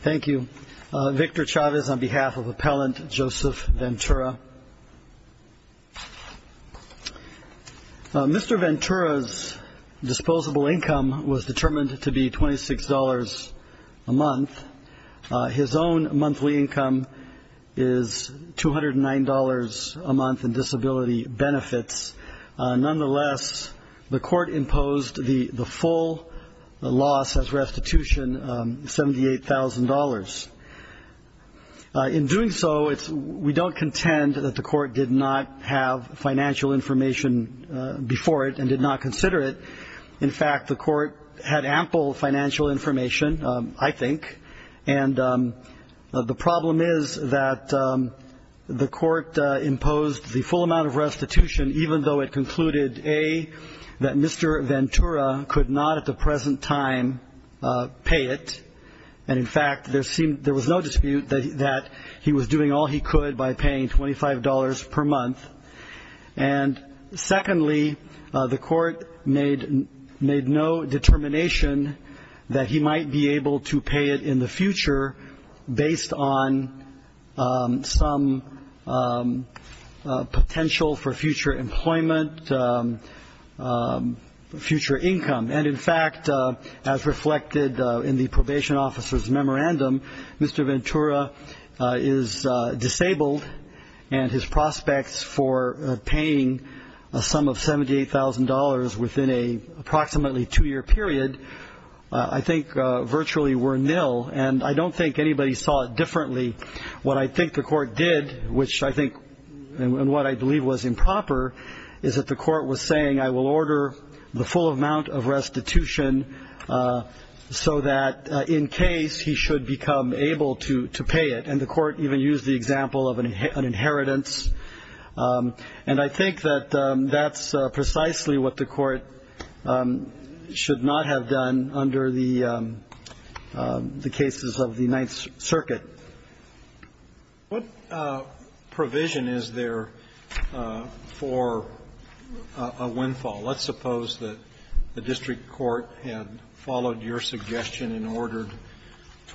Thank you. Victor Chavez on behalf of Appellant Joseph Venutra. Mr. Venutra's disposable income was determined to be $26 a month. His own monthly income is $209 a month in disability benefits. Nonetheless, the court imposed the full loss as restitution, $78,000. In doing so, we don't contend that the court did not have financial information before it and did not consider it. In fact, the court had ample financial information, I think. And the problem is that the court imposed the full amount of restitution even though it concluded, A, that Mr. Venutra could not at the present time pay it. And, in fact, there was no dispute that he was doing all he could by paying $25 per month. And, secondly, the court made no determination that he might be able to pay it in the future based on some potential for future employment, future income. And, in fact, as reflected in the probation officer's memorandum, Mr. Venutra is disabled and his prospects for paying a sum of $78,000 within a approximately two-year period I think virtually were nil. And I don't think anybody saw it differently. What I think the court did, which I think and what I believe was improper, is that the court was saying, I will order the full amount of restitution so that in case he should become able to pay it. And the court even used the example of an inheritance. And I think that that's precisely what the court should not have done under the cases of the Ninth Circuit. Roberts. What provision is there for a windfall? Let's suppose that the district court had followed your suggestion and ordered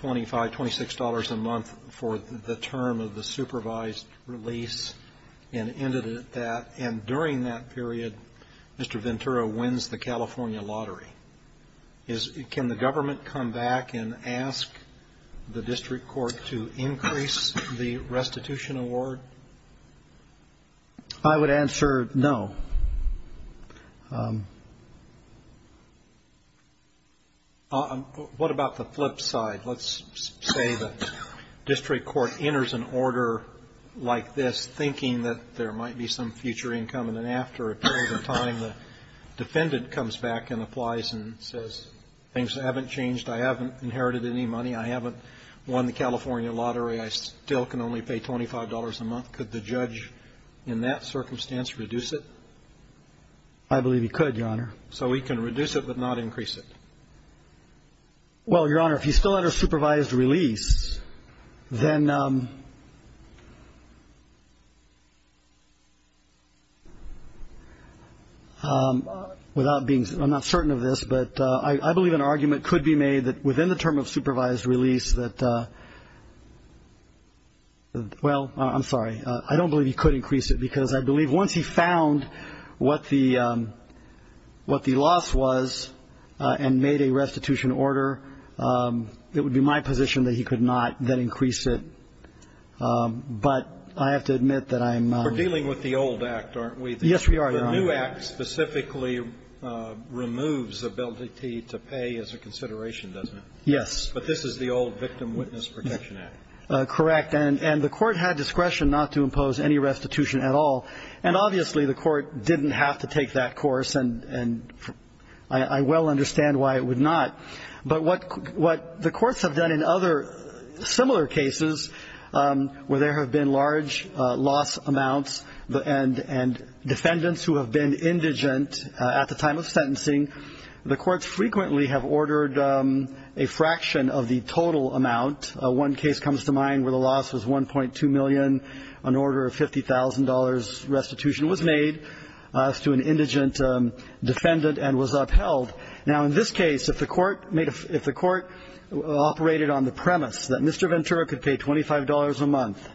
$25, $26 a month for the term of the supervised release and ended it at that. And during that period, Mr. Venutra wins the California lottery. Can the government come back and ask the district court to increase the restitution award? I would answer no. What about the flip side? Let's say the district court enters an order like this, I believe you could, Your Honor. So we can reduce it but not increase it. Well, Your Honor, if you still had a supervised release, then without being, I'm not certain of this, but I believe an argument could be made that within the term of supervised release that, well, I'm sorry. I don't believe you could increase it because I believe once he found what the loss was and made a restitution order, it would be my position that he could not then increase it. But I have to admit that I'm not. We're dealing with the old act, aren't we? Yes, we are, Your Honor. The new act specifically removes the ability to pay as a consideration, doesn't it? Yes. But this is the old Victim Witness Protection Act. Correct. And the court had discretion not to impose any restitution at all. And obviously the court didn't have to take that course, and I well understand why it would not. But what the courts have done in other similar cases where there have been large loss amounts and defendants who have been indigent at the time of sentencing, the courts frequently have ordered a fraction of the total amount. One case comes to mind where the loss was $1.2 million. An order of $50,000 restitution was made as to an indigent defendant and was upheld. Now, in this case, if the court operated on the premise that Mr. Ventura could pay $25 a month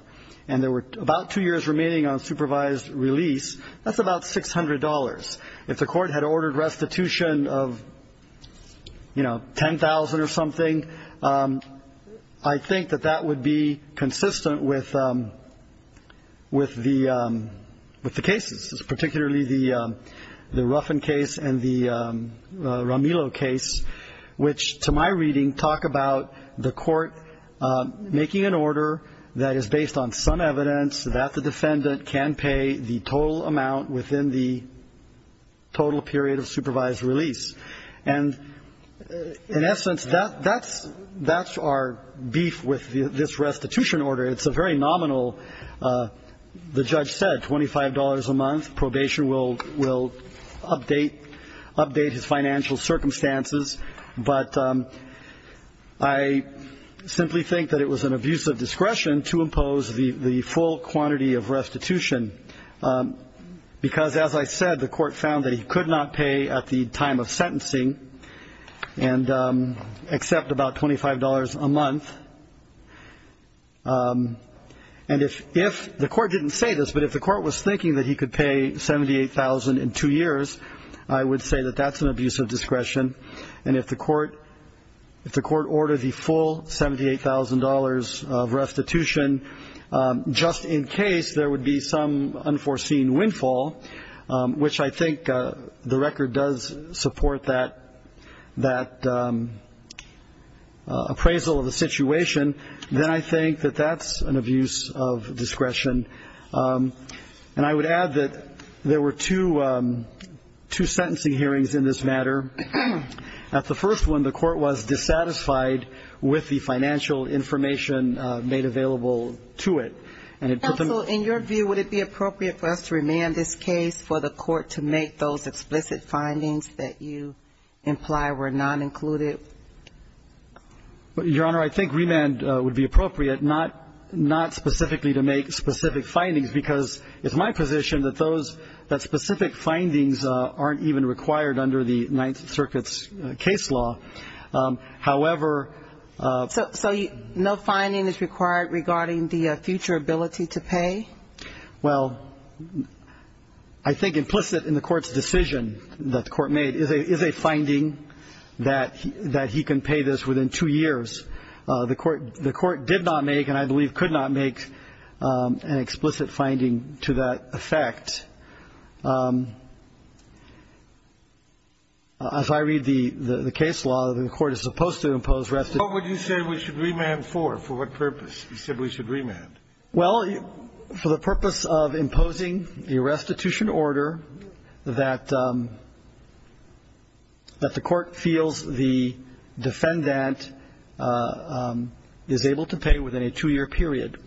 and there were about two years remaining on supervised release, that's about $600. If the court had ordered restitution of, you know, $10,000 or something, I think that that would be consistent with the cases, particularly the Ruffin case and the Romillo case, which to my reading talk about the court making an order that is based on some evidence that the defendant can pay the total amount within the total period of supervised release. And in essence, that's our beef with this restitution order. It's a very nominal, the judge said, $25 a month. Probation will update his financial circumstances. But I simply think that it was an abuse of discretion to impose the full quantity of restitution, because as I said, the court found that he could not pay at the time of sentencing and accept about $25 a month. And if the court didn't say this, but if the court was thinking that he could pay $78,000 in two years, I would say that that's an abuse of discretion. And if the court ordered the full $78,000 of restitution, just in case there would be some unforeseen windfall, which I think the record does support that appraisal of the situation, then I think that that's an abuse of discretion. And I would add that there were two sentencing hearings in this matter. At the first one, the court was dissatisfied with the financial information made available to it. And it put them... Counsel, in your view, would it be appropriate for us to remand this case for the court to make those explicit findings that you imply were not included? Your Honor, I think remand would be appropriate, but not specifically to make specific findings, because it's my position that specific findings aren't even required under the Ninth Circuit's case law. However... So no finding is required regarding the future ability to pay? Well, I think implicit in the court's decision that the court made is a finding that he can pay this within two years. The court did not make, and I believe could not make, an explicit finding to that effect. If I read the case law, the court is supposed to impose restitution... What would you say we should remand for? For what purpose? He said we should remand. Well, for the purpose of imposing a restitution order that the court feels the defendant is able to pay within a two-year period.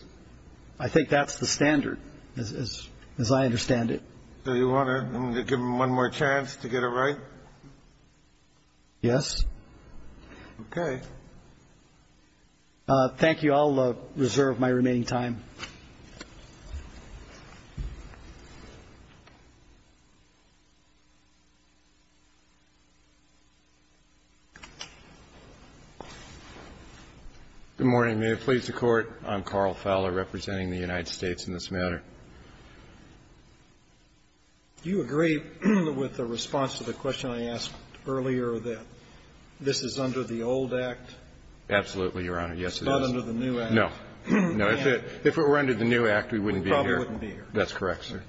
I think that's the standard, as I understand it. So you want to give him one more chance to get it right? Yes. Okay. Thank you. I'll reserve my remaining time. Good morning. May it please the Court. I'm Carl Fowler, representing the United States in this matter. Do you agree with the response to the question I asked earlier that this is under the old Act? Absolutely, Your Honor. Yes, it is. It's not under the new Act. No. No. If it were under the new Act, we wouldn't be here. We probably wouldn't be here. That's correct, sir.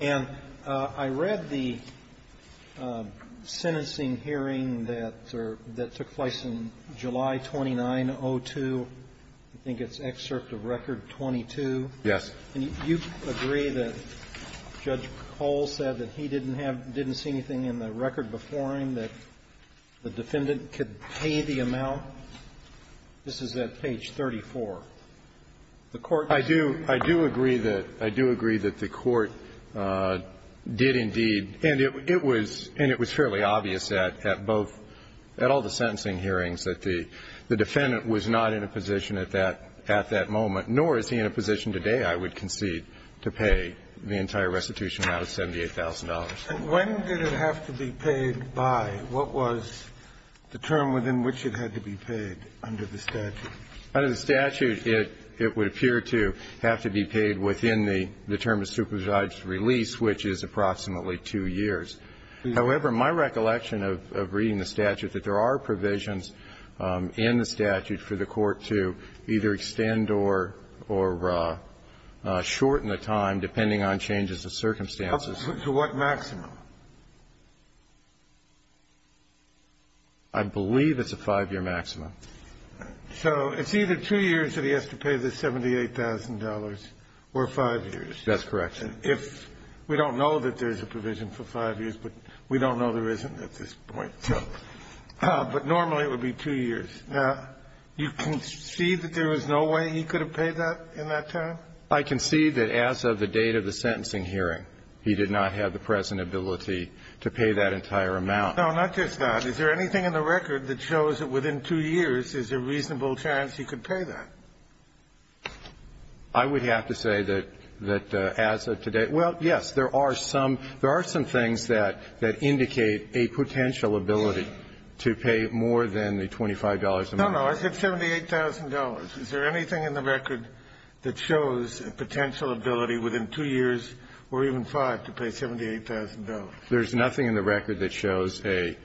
And I read the sentencing hearing that took place in July 2902. I think it's excerpt of Record 22. Yes. And you agree that Judge Cole said that he didn't have, didn't see anything in the record before him that the defendant could pay the amount? This is at page 34. The Court doesn't. I do. I do agree that the Court did indeed. And it was fairly obvious at both, at all the sentencing hearings that the defendant was not in a position at that moment. Nor is he in a position today, I would concede, to pay the entire restitution amount of $78,000. When did it have to be paid by? What was the term within which it had to be paid under the statute? Under the statute, it would appear to have to be paid within the term of supervised release, which is approximately two years. However, my recollection of reading the statute, that there are provisions in the statute for the Court to either extend or shorten the time, depending on changes of circumstances. To what maximum? I believe it's a five-year maximum. So it's either two years that he has to pay the $78,000 or five years. That's correct. If we don't know that there's a provision for five years, but we don't know there isn't at this point. But normally it would be two years. Now, you concede that there was no way he could have paid that in that time? I concede that as of the date of the sentencing hearing, he did not have the present ability to pay that entire amount. No, not just that. Is there anything in the record that shows that within two years is a reasonable chance he could pay that? I would have to say that as of today. Well, yes, there are some things that indicate a potential ability to pay more than the $25 a month. No, no. I said $78,000. Is there anything in the record that shows a potential ability within two years or even five to pay $78,000? There's nothing in the record that shows a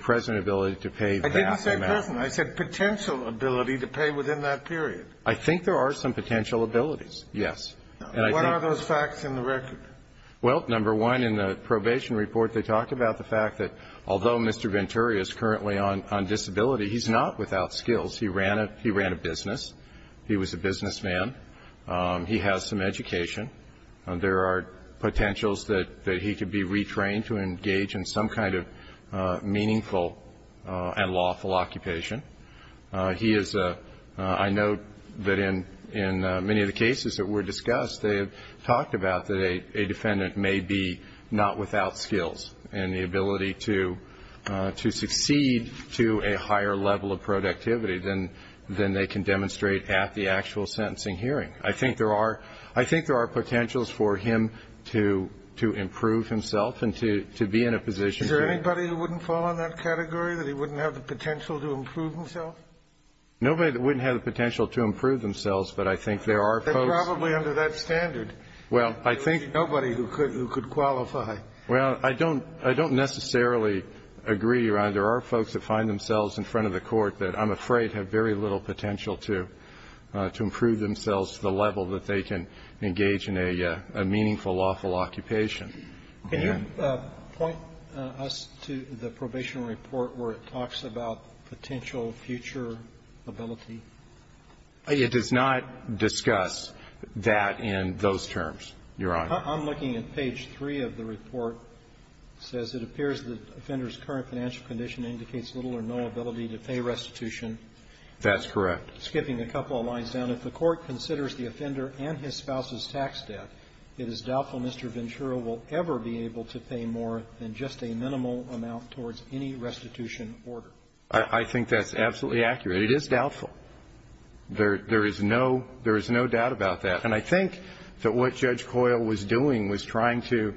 present ability to pay that amount. I didn't say present. I said potential ability to pay within that period. I think there are some potential abilities, yes. What are those facts in the record? Well, number one, in the probation report they talk about the fact that although Mr. Venturi is currently on disability, he's not without skills. He ran a business. He was a businessman. He has some education. There are potentials that he could be retrained to engage in some kind of meaningful and lawful occupation. He is a ‑‑ I note that in many of the cases that were discussed, they have talked about that a defendant may be not without skills and the ability to succeed to a higher level of productivity than they can demonstrate at the actual sentencing hearing. I think there are ‑‑ I think there are potentials for him to improve himself and to be in a position to ‑‑ Is there anybody who wouldn't fall in that category, that he wouldn't have the potential to improve himself? Nobody that wouldn't have the potential to improve themselves, but I think there are folks ‑‑ They're probably under that standard. Well, I think ‑‑ Nobody who could qualify. Well, I don't necessarily agree, Your Honor. There are folks that find themselves in front of the court that I'm afraid have very little potential to improve themselves to the level that they can engage in a meaningful, lawful occupation. Can you point us to the probation report where it talks about potential future ability? It does not discuss that in those terms, Your Honor. I'm looking at page 3 of the report. It says, It appears the offender's current financial condition indicates little or no ability to pay restitution. That's correct. Skipping a couple of lines down. If the court considers the offender and his spouse's tax debt, it is doubtful Mr. Ventura will ever be able to pay more than just a minimal amount towards any restitution order. I think that's absolutely accurate. It is doubtful. There is no doubt about that. And I think that what Judge Coyle was doing was trying to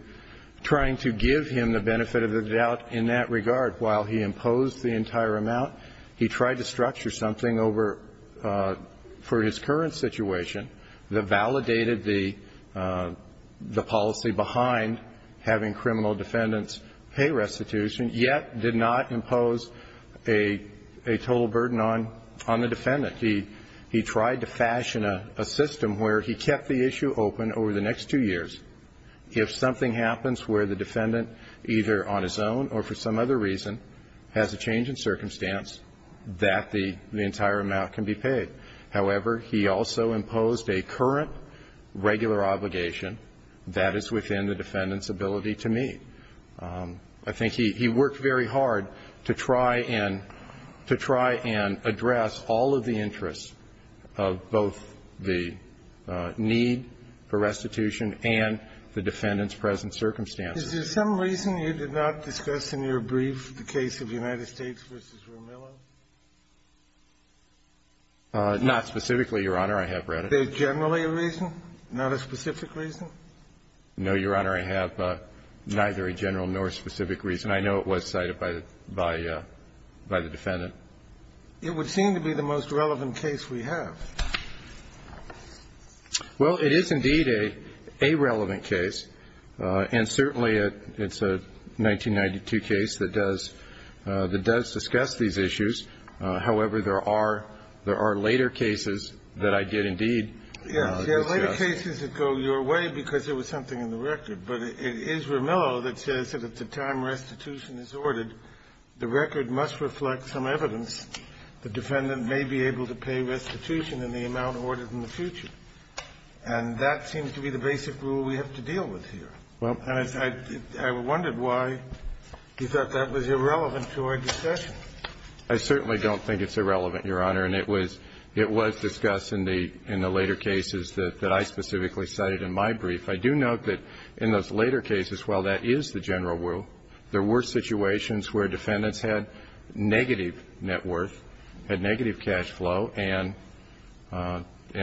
give him the benefit of the doubt in that regard. While he imposed the entire amount, he tried to structure something over, for his policy, behind having criminal defendants pay restitution, yet did not impose a total burden on the defendant. He tried to fashion a system where he kept the issue open over the next two years. If something happens where the defendant, either on his own or for some other reason, has a change in circumstance, that the entire amount can be paid. However, he also imposed a current regular obligation that is within the defendant's ability to meet. I think he worked very hard to try and to try and address all of the interests of both the need for restitution and the defendant's present circumstances. Is there some reason you did not discuss in your brief the case of United States v. Romillo? Not specifically, Your Honor. I have read it. Is there generally a reason, not a specific reason? No, Your Honor. I have neither a general nor specific reason. I know it was cited by the defendant. It would seem to be the most relevant case we have. Well, it is indeed a relevant case, and certainly it's a 1992 case that does discuss these issues. However, there are later cases that I did indeed discuss. Yes. There are later cases that go your way because there was something in the record. But it is Romillo that says that at the time restitution is ordered, the record must reflect some evidence the defendant may be able to pay restitution in the amount ordered in the future. And that seems to be the basic rule we have to deal with here. And I wondered why you thought that was irrelevant to our discussion. I certainly don't think it's irrelevant, Your Honor. And it was discussed in the later cases that I specifically cited in my brief. I do note that in those later cases, while that is the general rule, there were situations where defendants had negative net worth, had negative cash flow, and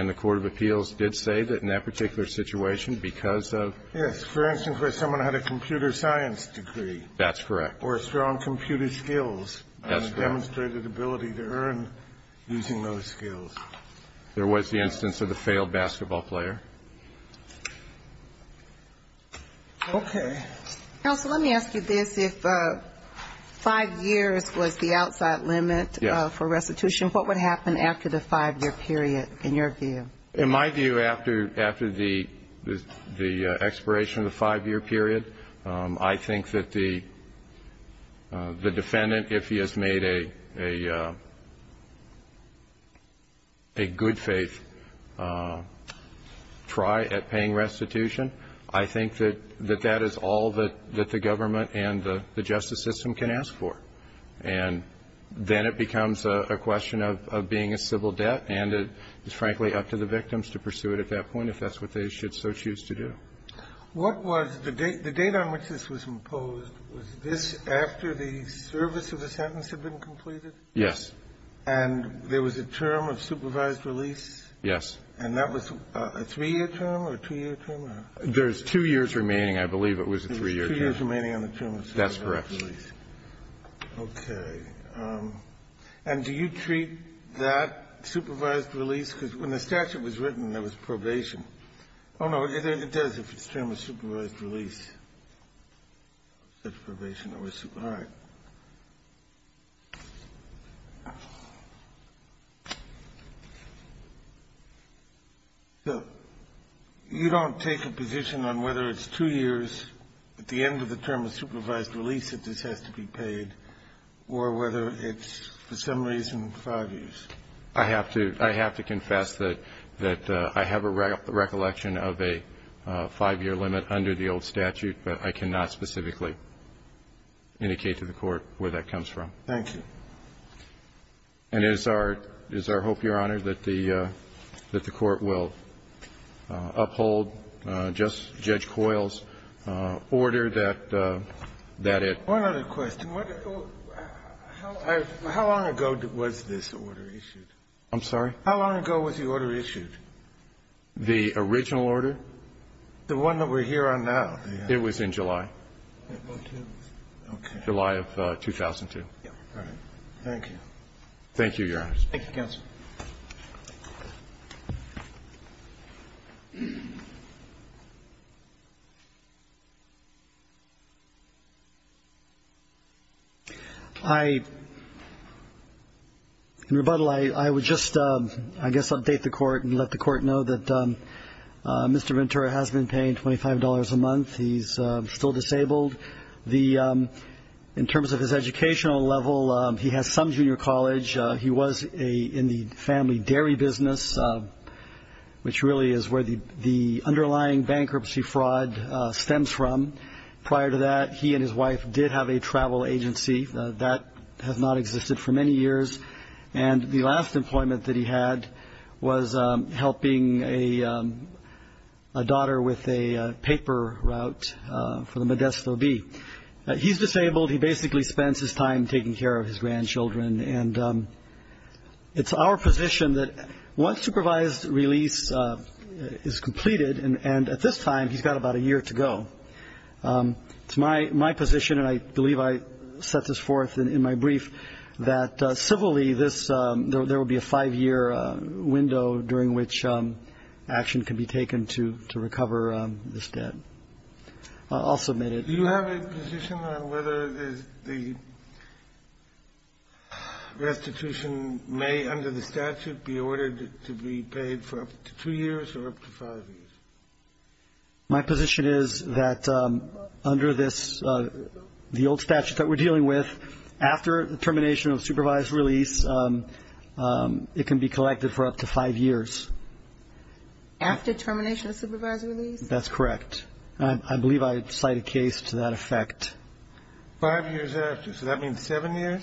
the court of appeals did say that in that particular situation because of ---- Yes. For instance, where someone had a computer science degree. That's correct. Or strong computer skills. That's demonstrated ability to earn using those skills. There was the instance of the failed basketball player. Okay. Counsel, let me ask you this. If 5 years was the outside limit for restitution, what would happen after the 5-year period in your view? In my view, after the expiration of the 5-year period, I think that the defendant, if he has made a good faith try at paying restitution, I think that that is all that the government and the justice system can ask for. And then it becomes a question of being a civil debt, and it's frankly up to the victims to pursue it at that point if that's what they should so choose to do. Okay. What was the date on which this was imposed? Was this after the service of the sentence had been completed? Yes. And there was a term of supervised release? Yes. And that was a 3-year term or a 2-year term? There's 2 years remaining. I believe it was a 3-year term. There's 2 years remaining on the term of supervised release. That's correct. Okay. And do you treat that supervised release? Because when the statute was written, there was probation. Oh, no. It does, if it's term of supervised release, there's probation. All right. So you don't take a position on whether it's 2 years at the end of the term of supervised release that this has to be paid, or whether it's for some reason 5 years? I have to. I have to confess that I have a recollection of a 5-year limit under the old statute, but I cannot specifically indicate to the Court where that comes from. Thank you. And it's our hope, Your Honor, that the Court will uphold Judge Coyle's order that it One other question. How long ago was this order issued? I'm sorry? How long ago was the order issued? The original order? The one that we're here on now. It was in July. Okay. July of 2002. All right. Thank you. Thank you, Your Honor. Thank you, counsel. In rebuttal, I would just, I guess, update the Court and let the Court know that Mr. Ventura has been paying $25 a month. He's still disabled. In terms of his educational level, he has some junior college. business, which really is where the underlying bankruptcy fraud stems from. Prior to that, he and his wife did have a travel agency. That has not existed for many years. And the last employment that he had was helping a daughter with a paper route for the Modesto Bee. He's disabled. He basically spends his time taking care of his grandchildren. And it's our position that once supervised release is completed, and at this time he's got about a year to go, it's my position, and I believe I set this forth in my brief, that civilly there will be a five-year window during which action can be taken to recover this debt. I'll submit it. Do you have a position on whether the restitution may, under the statute, be ordered to be paid for up to two years or up to five years? My position is that under this, the old statute that we're dealing with, after the termination of supervised release, it can be collected for up to five years. After termination of supervised release? That's correct. I believe I cite a case to that effect. Five years after? So that means seven years?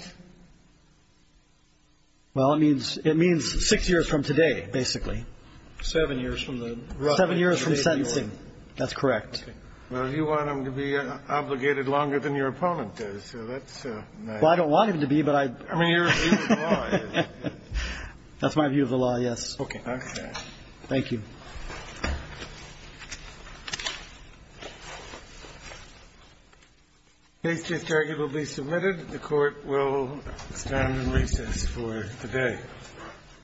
Well, it means six years from today, basically. Seven years from the date of the order? Seven years from sentencing. That's correct. Okay. Well, if you want him to be obligated longer than your opponent does, so that's my view. Well, I don't want him to be, but I – I mean, your view of the law is – That's my view of the law, yes. Okay. Okay. Thank you. The case just argued will be submitted. The Court will stand in recess for the day.